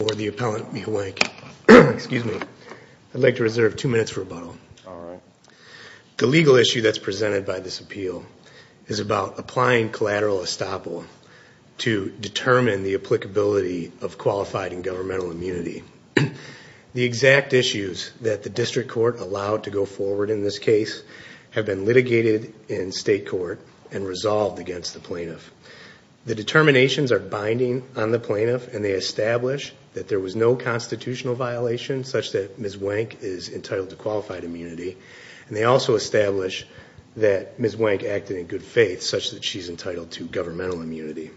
for the appellant. Excuse me. I'd like to reserve two minutes for rebuttal. The legal issue that's presented by this appeal is about applying collateral estoppel to determine the applicability of qualified and governmental immunity. The exact issues that the district court allowed to go forward in this case have been litigated in state court and resolved against the plaintiff. The determinations are binding on the plaintiff, and they establish that there was no constitutional violation such that Ms. Wank is entitled to qualified immunity. And they also establish that Ms. Wank acted in good faith such that she's entitled to governmental immunity.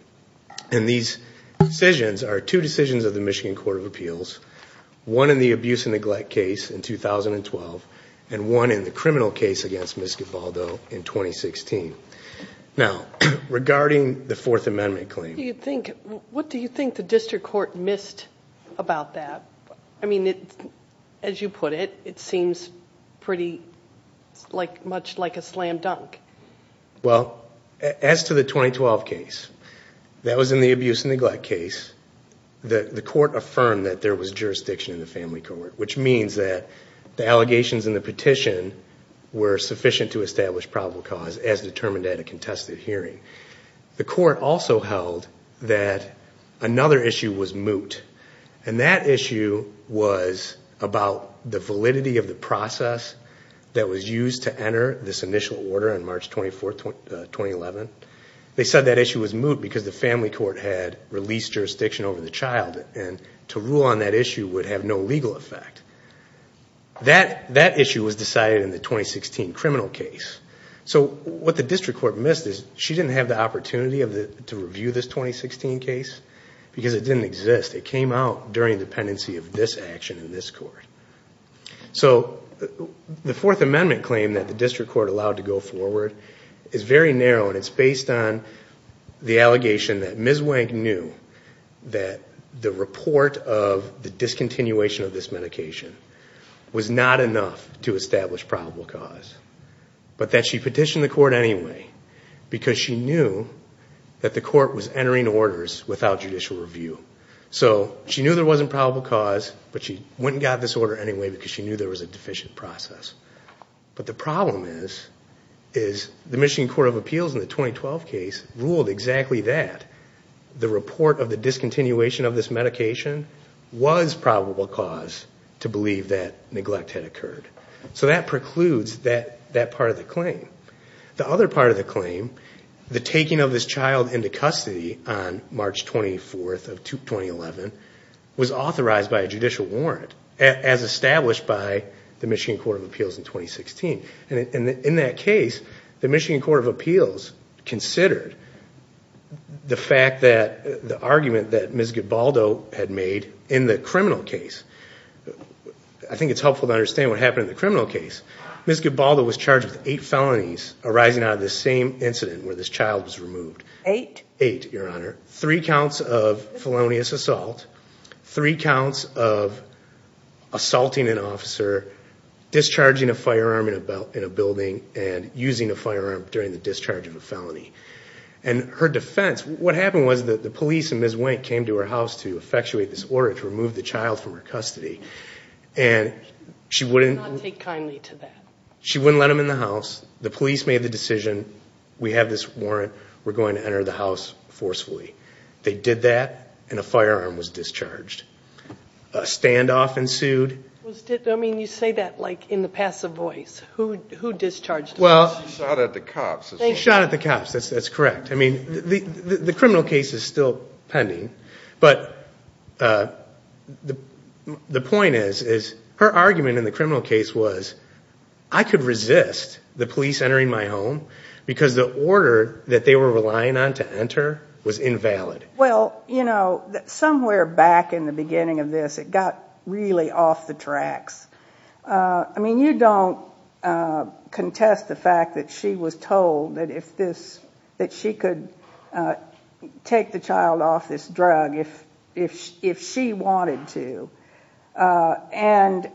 And these decisions are two decisions of the Michigan Court of Appeals. One in the abuse and neglect case in 2012 and one in the criminal case against Ms. Givaldo in 2016. Now, regarding the Fourth Amendment claim. What do you think the district court missed about that? I mean, as you put it, it seems pretty much like a slam dunk. Well, as to the 2012 case, that was in the abuse and neglect case. The court affirmed that there was jurisdiction in the family court, which means that the allegations in the petition were sufficient to establish probable cause as determined at a contested hearing. The court also held that another issue was moot. And that issue was about the validity of the process that was used to enter this initial order on March 24th, 2011. They said that issue was moot because the family court had released jurisdiction over the child and to rule on that issue would have no legal effect. That issue was decided in the 2016 criminal case. So, what the district court missed is she didn't have the opportunity to review this 2016 case because it didn't exist. It came out during the pendency of this action in this court. So, the Fourth Amendment claim that the district court allowed to go forward is very narrow and it's based on the allegation that Ms. Wank knew that the report of the discontinuation of this medication was not enough to establish probable cause, but that she petitioned the court anyway because she knew that the court was entering orders without judicial review. So, she knew there wasn't probable cause, but she went and got this order anyway because she knew there was a deficient process. But the problem is, is the Michigan Court of Appeals in the 2012 case ruled exactly that. The report of the discontinuation of this medication was probable cause to believe that neglect had occurred. So, that precludes that part of the claim. The other part of the claim, the taking of this child into custody on March 24th of 2011 was authorized by a judicial warrant as established by the Michigan Court of Appeals in 2016. And in that case, the Michigan Court of Appeals considered the fact that, the argument that Ms. Gibaldo had made in the criminal case. I think it's helpful to understand what happened in the criminal case. Ms. Gibaldo was charged with eight felonies arising out of the same incident where this child was removed. Eight? Eight, Your Honor. Three counts of felonious assault, three counts of assaulting an officer, discharging a firearm in a building, and using a firearm during the discharge of a felony. And her defense, what happened was that the police and Ms. Wink came to her house to effectuate this order to remove the child from her custody. And she wouldn't... She did not take kindly to that. She wouldn't let him in the house. The police made the decision, we have this warrant, we're going to enter the house forcefully. They did that, and a firearm was discharged. A standoff ensued. I mean, you say that like in the passive voice. Who discharged the child? She shot at the cops. She shot at the cops, that's correct. I mean, the criminal case is still pending. But the point is, her argument in the criminal case was, I could resist the police entering my home because the order that they were relying on to enter was invalid. Well, you know, somewhere back in the beginning of this, it got really off the tracks. I mean, you don't contest the fact that she was told that she could take the child off this drug if she wanted to. And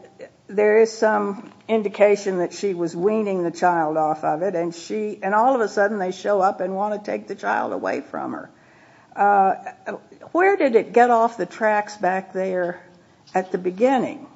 there is some indication that she was weaning the child off of it. And all of a sudden, they show up and want to take the child away from her. Where did it get off the tracks back there at the beginning?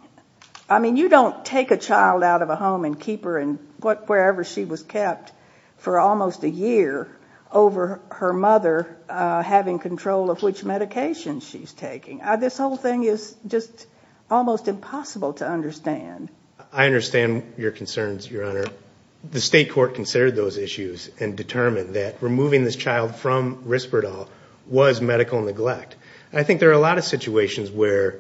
I mean, you don't take a child out of a home and keep her wherever she was kept for almost a year over her mother having control of which medication she's taking. This whole thing is just almost impossible to understand. I understand your concerns, Your Honor. The state court considered those issues and determined that removing this child from Risperdal was medical neglect. I think there are a lot of situations where...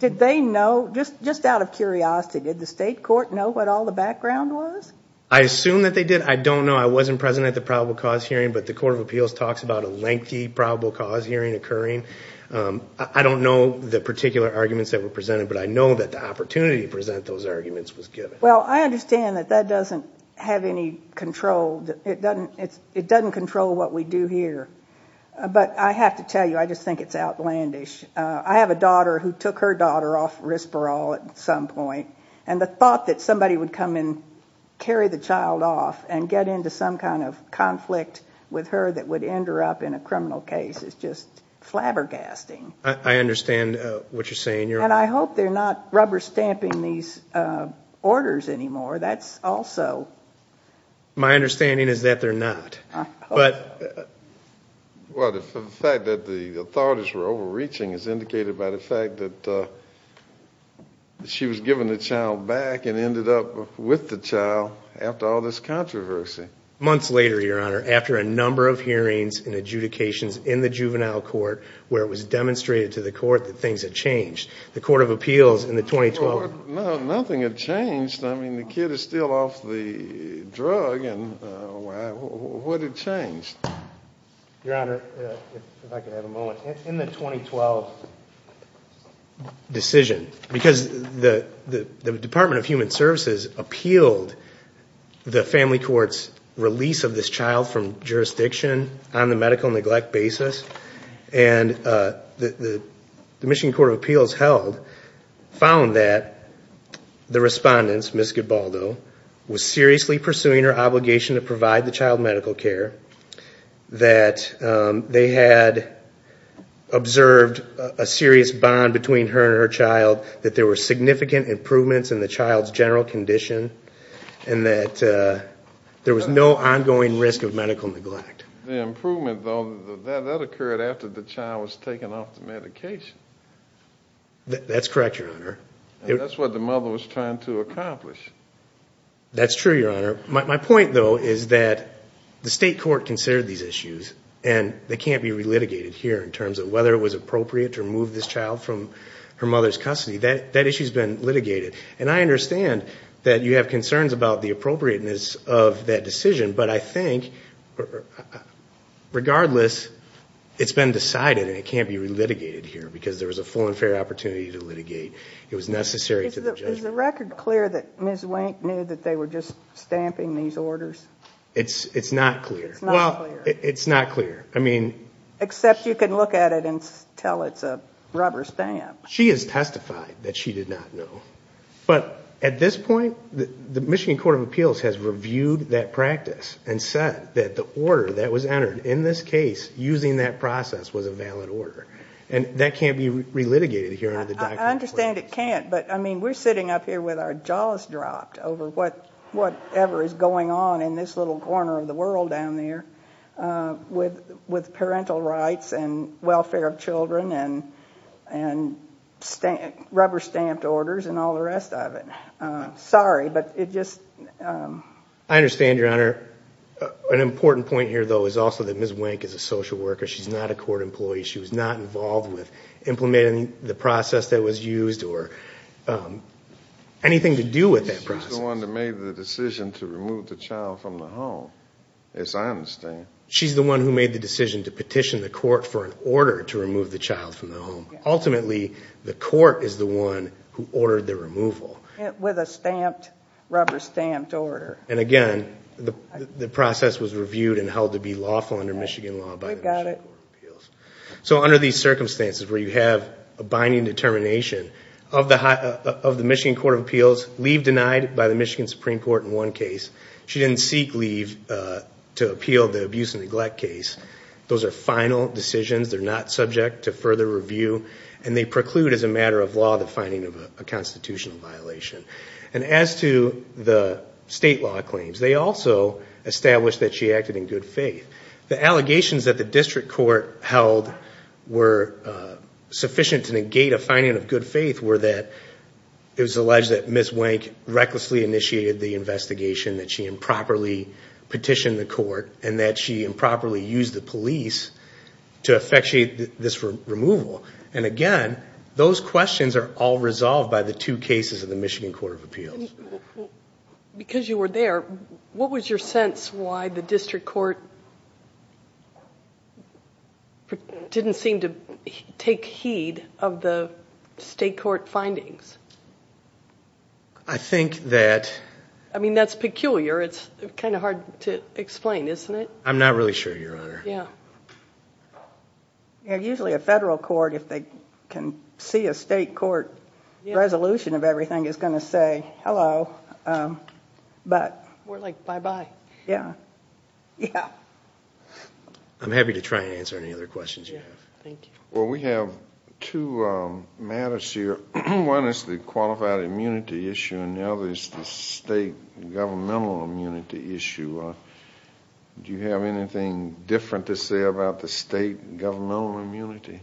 Did they know? Just out of curiosity, did the state court know what all the background was? I assume that they did. I don't know. I wasn't present at the probable cause hearing, but the Court of Appeals talks about a lengthy probable cause hearing occurring. I don't know the particular arguments that were presented, but I know that the opportunity to present those arguments was given. Well, I understand that that doesn't have any control. It doesn't control what we do here. But I have to tell you, I just think it's outlandish. I have a daughter who took her daughter off Risperdal at some point, and the thought that somebody would come and carry the child off and get into some kind of conflict with her that would end her up in a criminal case is just flabbergasting. I understand what you're saying, Your Honor. And I hope they're not rubber stamping these orders anymore. That's also... My understanding is that they're not. Well, the fact that the authorities were overreaching is indicated by the fact that she was given the child back and ended up with the child after all this controversy. Months later, Your Honor, after a number of hearings and adjudications in the juvenile court where it was demonstrated to the court that things had changed, the Court of Appeals in the 2012... No, nothing had changed. I mean, the kid is still off the drug. What had changed? Your Honor, if I could have a moment. In the 2012 decision, because the Department of Human Services appealed the family court's release of this child from jurisdiction on the medical neglect basis, and the Michigan Court of Appeals held, found that the respondent, Ms. Gibaldo, was seriously pursuing her obligation to provide the child medical care, that they had observed a serious bond between her and her child, that there were significant improvements in the child's general condition, and that there was no ongoing risk of medical neglect. The improvement, though, that occurred after the child was taken off the medication. That's correct, Your Honor. And that's what the mother was trying to accomplish. That's true, Your Honor. My point, though, is that the state court considered these issues, and they can't be re-litigated here in terms of whether it was appropriate to remove this child from her mother's custody. That issue has been litigated. And I understand that you have concerns about the appropriateness of that decision, but I think, regardless, it's been decided and it can't be re-litigated here because there was a full and fair opportunity to litigate. It was necessary to the judgment. Is the record clear that Ms. Wink knew that they were just stamping these orders? It's not clear. It's not clear. Well, it's not clear. Except you can look at it and tell it's a rubber stamp. She has testified that she did not know. But at this point, the Michigan Court of Appeals has reviewed that practice and said that the order that was entered in this case using that process was a valid order. And that can't be re-litigated here under the document. I understand it can't, but, I mean, we're sitting up here with our jaws dropped over whatever is going on in this little corner of the world down there with parental rights and welfare of children and rubber-stamped orders and all the rest of it. Sorry, but it just... I understand, Your Honor. An important point here, though, is also that Ms. Wink is a social worker. She's not a court employee. She was not involved with implementing the process that was used or anything to do with that process. She's the one that made the decision to remove the child from the home, as I understand. She's the one who made the decision to petition the court for an order to remove the child from the home. Ultimately, the court is the one who ordered the removal. With a rubber-stamped order. And, again, the process was reviewed and held to be lawful under Michigan law by the Michigan Court of Appeals. So under these circumstances where you have a binding determination of the Michigan Court of Appeals, leave denied by the Michigan Supreme Court in one case. She didn't seek leave to appeal the abuse and neglect case. Those are final decisions. They're not subject to further review. And they preclude, as a matter of law, the finding of a constitutional violation. And as to the state law claims, they also establish that she acted in good faith. The allegations that the district court held were sufficient to negate a finding of good faith were that it was alleged that Ms. Wank recklessly initiated the investigation, that she improperly petitioned the court, and that she improperly used the police to effectuate this removal. And, again, those questions are all resolved by the two cases of the Michigan Court of Appeals. Because you were there, what was your sense why the district court didn't seem to take heed of the state court findings? I think that... I mean, that's peculiar. It's kind of hard to explain, isn't it? Yeah. Usually a federal court, if they can see a state court resolution of everything, is going to say hello. More like bye-bye. Yeah. I'm happy to try and answer any other questions you have. Thank you. Well, we have two matters here. One is the qualified immunity issue, and the other is the state governmental immunity issue. Do you have anything different to say about the state governmental immunity?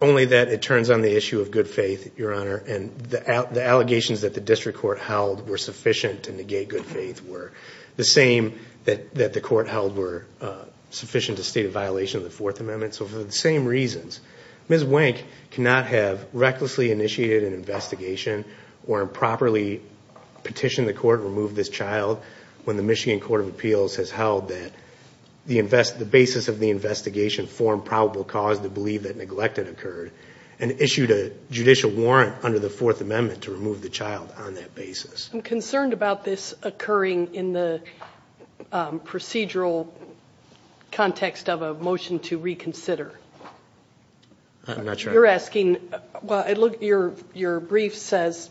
Only that it turns on the issue of good faith, Your Honor, and the allegations that the district court held were sufficient to negate good faith were the same that the court held were sufficient to state a violation of the Fourth Amendment. So for the same reasons, Ms. Wank cannot have recklessly initiated an investigation or improperly petitioned the court to remove this child when the Michigan Court of Appeals has held that the basis of the investigation formed probable cause to believe that neglect had occurred and issued a judicial warrant under the Fourth Amendment to remove the child on that basis. I'm concerned about this occurring in the procedural context of a motion to reconsider. I'm not sure. You're asking, well, your brief says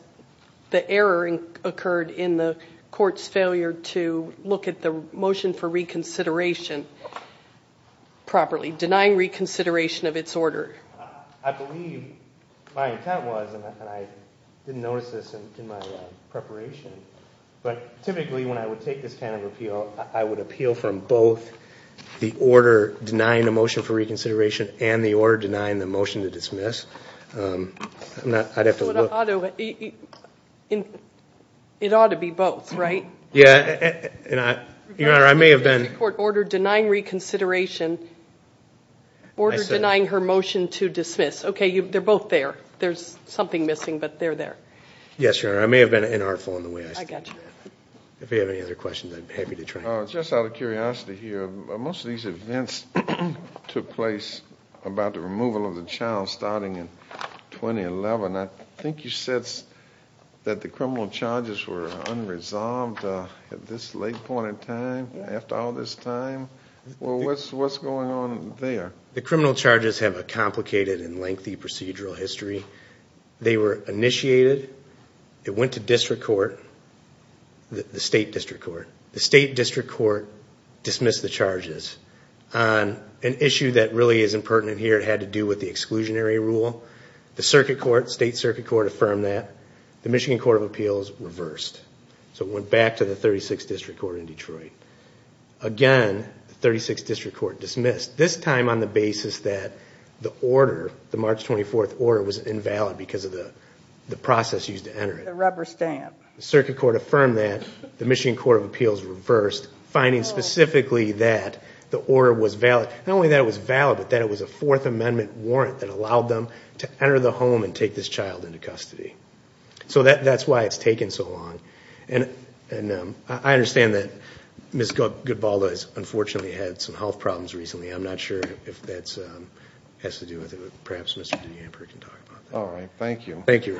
the error occurred in the court's failure to look at the motion for reconsideration properly, denying reconsideration of its order. I believe my intent was, and I didn't notice this in my preparation, but typically when I would take this kind of appeal, I would appeal from both the order denying the motion for reconsideration and the order denying the motion to dismiss. I'd have to look. It ought to be both, right? Yeah. Your Honor, I may have been. Order denying reconsideration, order denying her motion to dismiss. Okay. They're both there. There's something missing, but they're there. Yes, Your Honor. I may have been inartful in the way I said that. I got you. If you have any other questions, I'd be happy to try. Just out of curiosity here, most of these events took place about the removal of the child starting in 2011. I think you said that the criminal charges were unresolved at this late point in time, after all this time. Well, what's going on there? The criminal charges have a complicated and lengthy procedural history. They were initiated. It went to district court, the state district court. The state district court dismissed the charges on an issue that really isn't pertinent here. It had to do with the exclusionary rule. The circuit court, state circuit court, affirmed that. The Michigan Court of Appeals reversed. So it went back to the 36th District Court in Detroit. Again, the 36th District Court dismissed, this time on the basis that the order, the March 24th order, was invalid because of the process used to enter it. The rubber stamp. The circuit court affirmed that. The Michigan Court of Appeals reversed, finding specifically that the order was valid. Not only that it was valid, but that it was a Fourth Amendment warrant that allowed them to enter the home and take this child into custody. So that's why it's taken so long. I understand that Ms. Goodball has unfortunately had some health problems recently. I'm not sure if that has to do with it. Perhaps Mr. Dehamper can talk about that. All right, thank you. Thank you.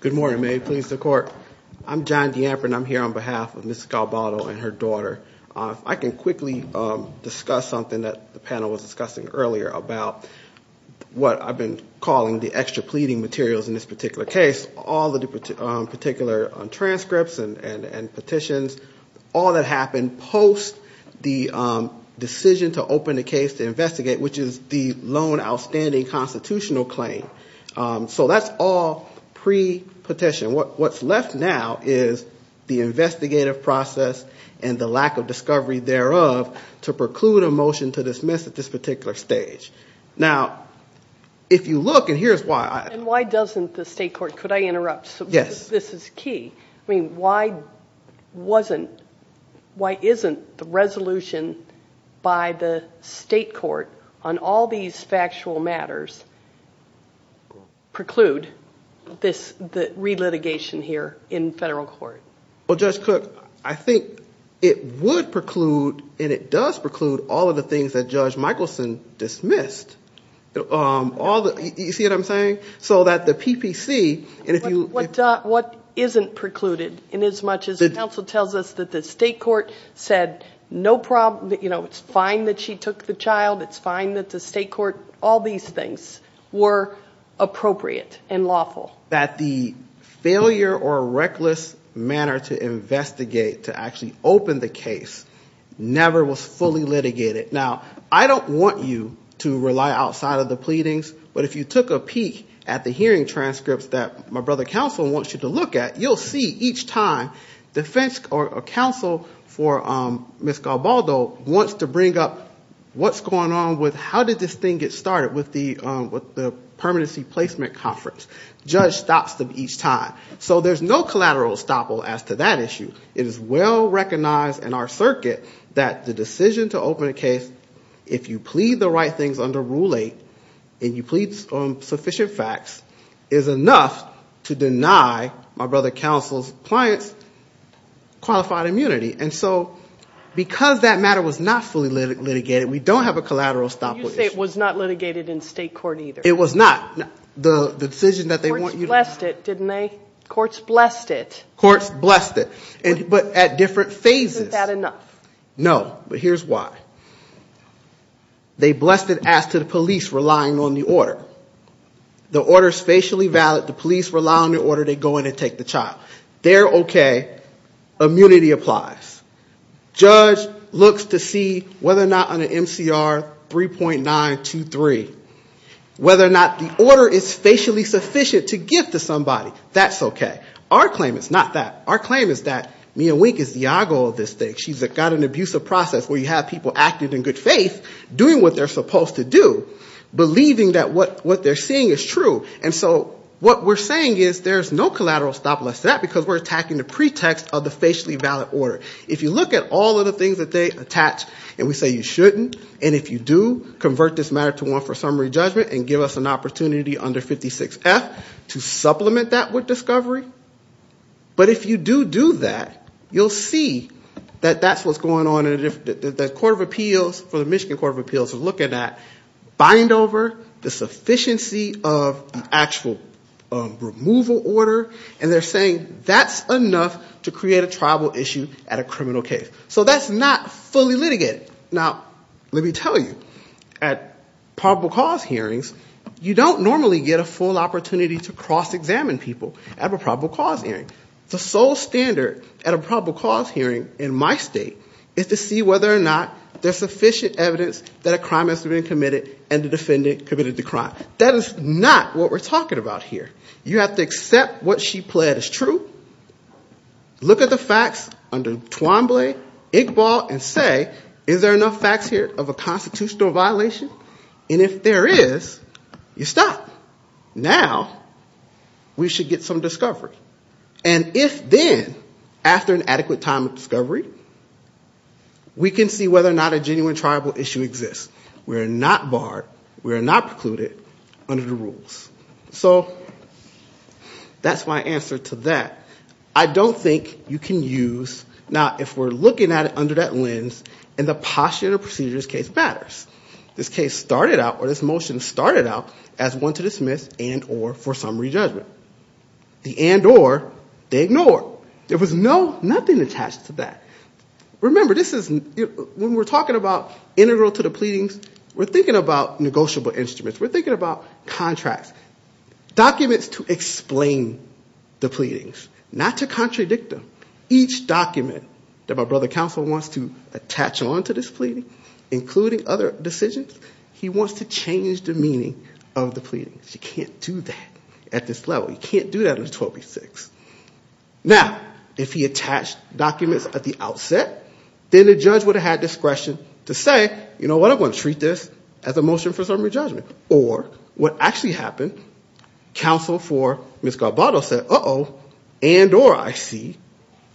Good morning, may it please the Court. I'm John Dehamper, and I'm here on behalf of Ms. Galbado and her daughter. If I can quickly discuss something that the panel was discussing earlier about what I've been calling the extra pleading materials in this particular case. All of the particular transcripts and petitions, all that happened post the decision to open the case to investigate, which is the lone outstanding constitutional claim. So that's all pre-petition. What's left now is the investigative process and the lack of discovery thereof to preclude a motion to dismiss at this particular stage. Now, if you look, and here's why. And why doesn't the state court, could I interrupt? Yes. This is key. I mean, why wasn't, why isn't the resolution by the state court on all these factual matters preclude the re-litigation here in federal court? Well, Judge Cook, I think it would preclude and it does preclude all of the things that Judge Michaelson dismissed. All the, you see what I'm saying? So that the PPC, and if you. What isn't precluded in as much as the counsel tells us that the state court said no problem, you know, it's fine that she took the child, it's fine that the state court, all these things were appropriate and lawful. That the failure or reckless manner to investigate, to actually open the case, never was fully litigated. Now, I don't want you to rely outside of the pleadings, but if you took a peek at the hearing transcripts that my brother counsel wants you to look at, you'll see each time defense or counsel for Ms. Galbaldo wants to bring up what's going on with, how did this thing get started with the permanency placement conference. Judge stops them each time. So there's no collateral estoppel as to that issue. It is well recognized in our circuit that the decision to open a case, if you plead the right things under Rule 8, and you plead sufficient facts, is enough to deny my brother counsel's clients qualified immunity. And so because that matter was not fully litigated, we don't have a collateral estoppel issue. You say it was not litigated in state court either. It was not. The decision that they want you to. Courts blessed it, didn't they? Courts blessed it. Courts blessed it. But at different phases. Isn't that enough? No, but here's why. They blessed it as to the police relying on the order. The order is facially valid. The police rely on the order. They go in and take the child. They're okay. Immunity applies. Judge looks to see whether or not on an MCR 3.923, whether or not the order is facially sufficient to give to somebody. That's okay. Our claim is not that. Our claim is that Mia Wink is Diago of this thing. She's got an abusive process where you have people acting in good faith, doing what they're supposed to do, believing that what they're seeing is true. And so what we're saying is there's no collateral estoppel to that because we're attacking the pretext of the facially valid order. If you look at all of the things that they attach, and we say you shouldn't, and if you do, convert this matter to one for summary judgment and give us an opportunity under 56F to supplement that with discovery. But if you do do that, you'll see that that's what's going on. The Court of Appeals for the Michigan Court of Appeals is looking at bind over, the sufficiency of the actual removal order, and they're saying that's enough to create a tribal issue at a criminal case. So that's not fully litigated. Now, let me tell you, at probable cause hearings, you don't normally get a full opportunity to cross-examine people at a probable cause hearing. The sole standard at a probable cause hearing in my state is to see whether or not there's sufficient evidence that a crime has been committed and the defendant committed the crime. That is not what we're talking about here. You have to accept what she pled is true, look at the facts under Twombly, Inkball, and say is there enough facts here of a constitutional violation? And if there is, you stop. Now we should get some discovery. And if then, after an adequate time of discovery, we can see whether or not a genuine tribal issue exists. We're not barred, we're not precluded under the rules. So that's my answer to that. I don't think you can use, now if we're looking at it under that lens, and the postulative procedures case matters. This case started out, or this motion started out, as one to dismiss and or for summary judgment. The and or, they ignored. There was nothing attached to that. Remember, when we're talking about integral to the pleadings, we're thinking about negotiable instruments, we're thinking about contracts. Documents to explain the pleadings, not to contradict them. Each document that my brother counsel wants to attach onto this pleading, including other decisions, he wants to change the meaning of the pleadings. You can't do that at this level. You can't do that under 1286. Now, if he attached documents at the outset, then the judge would have had discretion to say, you know what, I'm going to treat this as a motion for summary judgment. Or, what actually happened, counsel for Ms. Garbato said, uh-oh, and or, I see.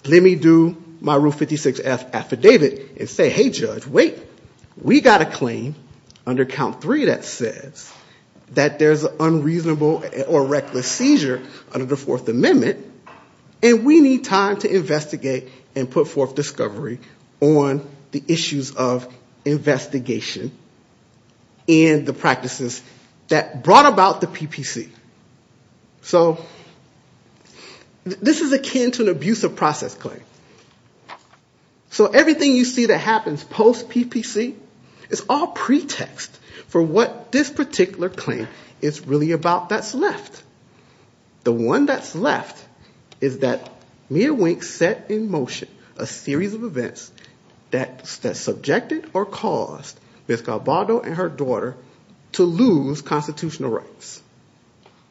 Let me do my rule 56F affidavit and say, hey, judge, wait. We got a claim under count three that says that there's an unreasonable or reckless seizure under the Fourth Amendment, and we need time to investigate and put forth discovery on the issues of investigation and the practices that brought about the PPC. So this is akin to an abusive process claim. So everything you see that happens post-PPC is all pretext for what this particular claim is really about that's left. The one that's left is that Mia Wink set in motion a series of events that's subjected or caused, Ms. Garbato and her daughter, to lose constitutional rights.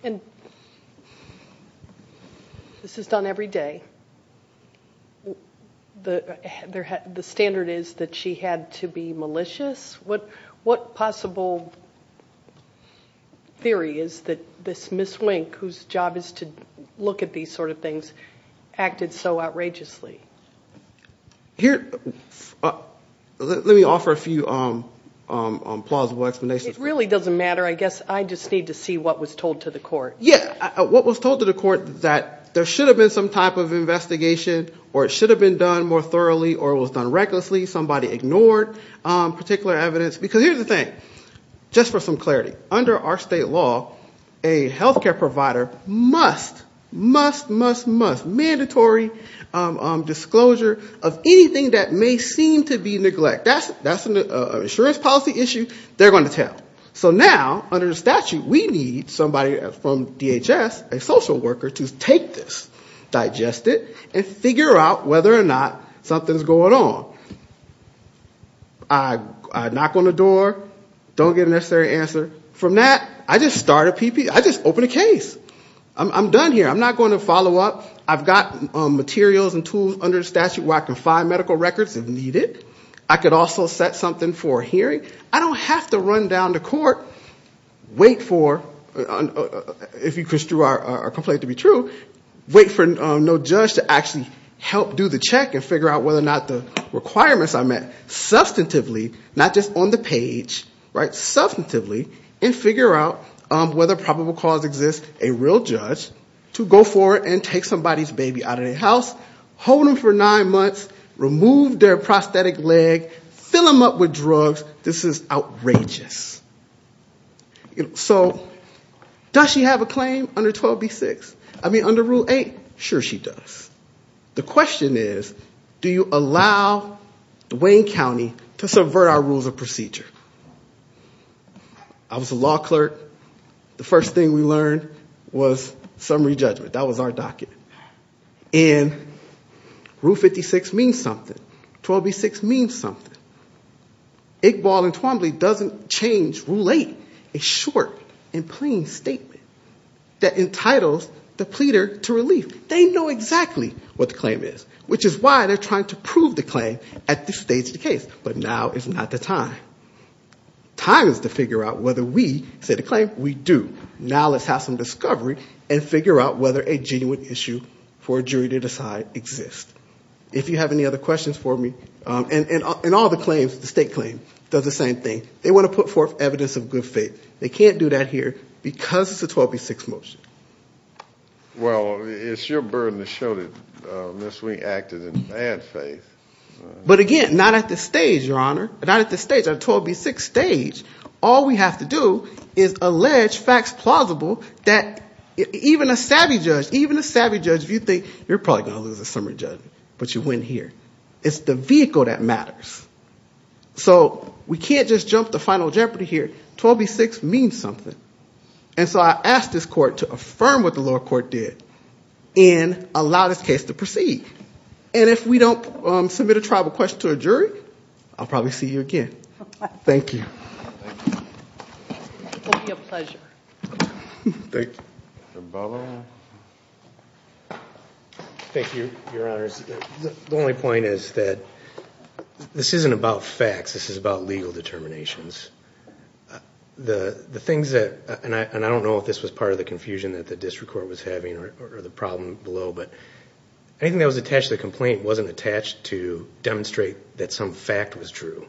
And this is done every day. The standard is that she had to be malicious. What possible theory is that this Ms. Wink, whose job is to look at these sort of things, acted so outrageously? Here, let me offer a few plausible explanations. It really doesn't matter. I guess I just need to see what was told to the court. Yeah, what was told to the court that there should have been some type of investigation, or it should have been done more thoroughly, or it was done recklessly, somebody ignored particular evidence. Because here's the thing, just for some clarity, under our state law, a health care provider must, must, must, must, have a statutory disclosure of anything that may seem to be neglect. That's an insurance policy issue. They're going to tell. So now, under the statute, we need somebody from DHS, a social worker, to take this, digest it, and figure out whether or not something's going on. I knock on the door, don't get a necessary answer. From that, I just start a PP, I just open a case. I'm done here. I'm not going to follow up. I've got materials and tools under the statute where I can find medical records if needed. I could also set something for a hearing. I don't have to run down to court, wait for, if you construe our complaint to be true, wait for no judge to actually help do the check and figure out whether or not the requirements I met. Substantively, not just on the page, right? Substantively, and figure out whether probable cause exists, a real judge, to go forward and take somebody's baby out of their house, hold them for nine months, remove their prosthetic leg, fill them up with drugs. This is outrageous. So does she have a claim under 12B6? I mean, under Rule 8, sure she does. The question is, do you allow Wayne County to subvert our rules of procedure? I was a law clerk. The first thing we learned was summary judgment. That was our docket. And Rule 56 means something. 12B6 means something. Iqbal and Twombly doesn't change Rule 8, a short and plain statement that entitles the pleader to relief. They know exactly what the claim is, which is why they're trying to prove the claim at this stage of the case. But now is not the time. Time is to figure out whether we say the claim, we do. Now let's have some discovery and figure out whether a genuine issue for a jury to decide exists. If you have any other questions for me, and all the claims, the state claim, does the same thing. They want to put forth evidence of good faith. They can't do that here because it's a 12B6 motion. Well, it's your burden to show that Ms. Wayne acted in bad faith. But again, not at this stage, Your Honor. Not at this stage, our 12B6 stage. All we have to do is allege facts plausible that even a savvy judge, even a savvy judge, if you think you're probably going to lose a summary judgment, but you win here. It's the vehicle that matters. So we can't just jump to Final Jeopardy here. 12B6 means something. And so I ask this court to affirm what the lower court did and allow this case to proceed. And if we don't submit a tribal question to a jury, I'll probably see you again. Thank you. It will be a pleasure. Thank you, Your Honor. The only point is that this isn't about facts. This is about legal determinations. And I don't know if this was part of the confusion that the district court was having or the problem below. But anything that was attached to the complaint wasn't attached to demonstrate that some fact was true.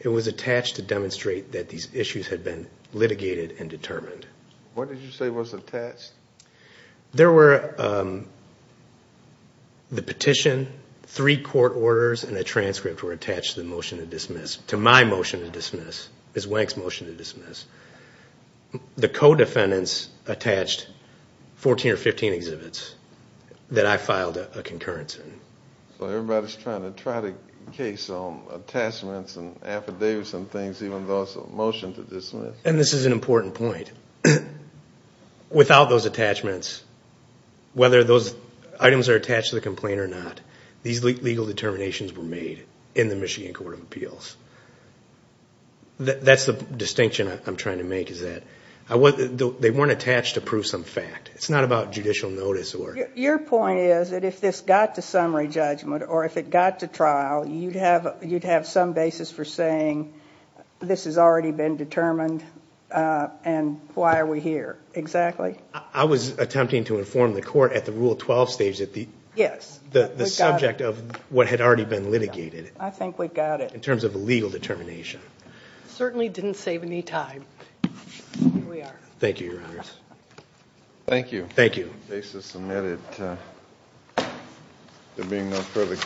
It was attached to demonstrate that these issues had been litigated and determined. What did you say was attached? The petition, three court orders, and a transcript were attached to the motion to dismiss, to my motion to dismiss, Ms. Wank's motion to dismiss. The co-defendants attached 14 or 15 exhibits that I filed a concurrence in. So everybody's trying to try to case on attachments and affidavits and things, even though it's a motion to dismiss. And this is an important point. Without those attachments, whether those items are attached to the complaint or not, these legal determinations were made in the Michigan Court of Appeals. That's the distinction I'm trying to make, is that they weren't attached to prove some fact. It's not about judicial notice. Your point is that if this got to summary judgment or if it got to trial, you'd have some basis for saying this has already been determined and why are we here, exactly? I was attempting to inform the court at the Rule 12 stage that the subject of what had already been litigated, in terms of a legal determination. Certainly didn't save any time. Here we are. Thank you, Your Honors. Thank you.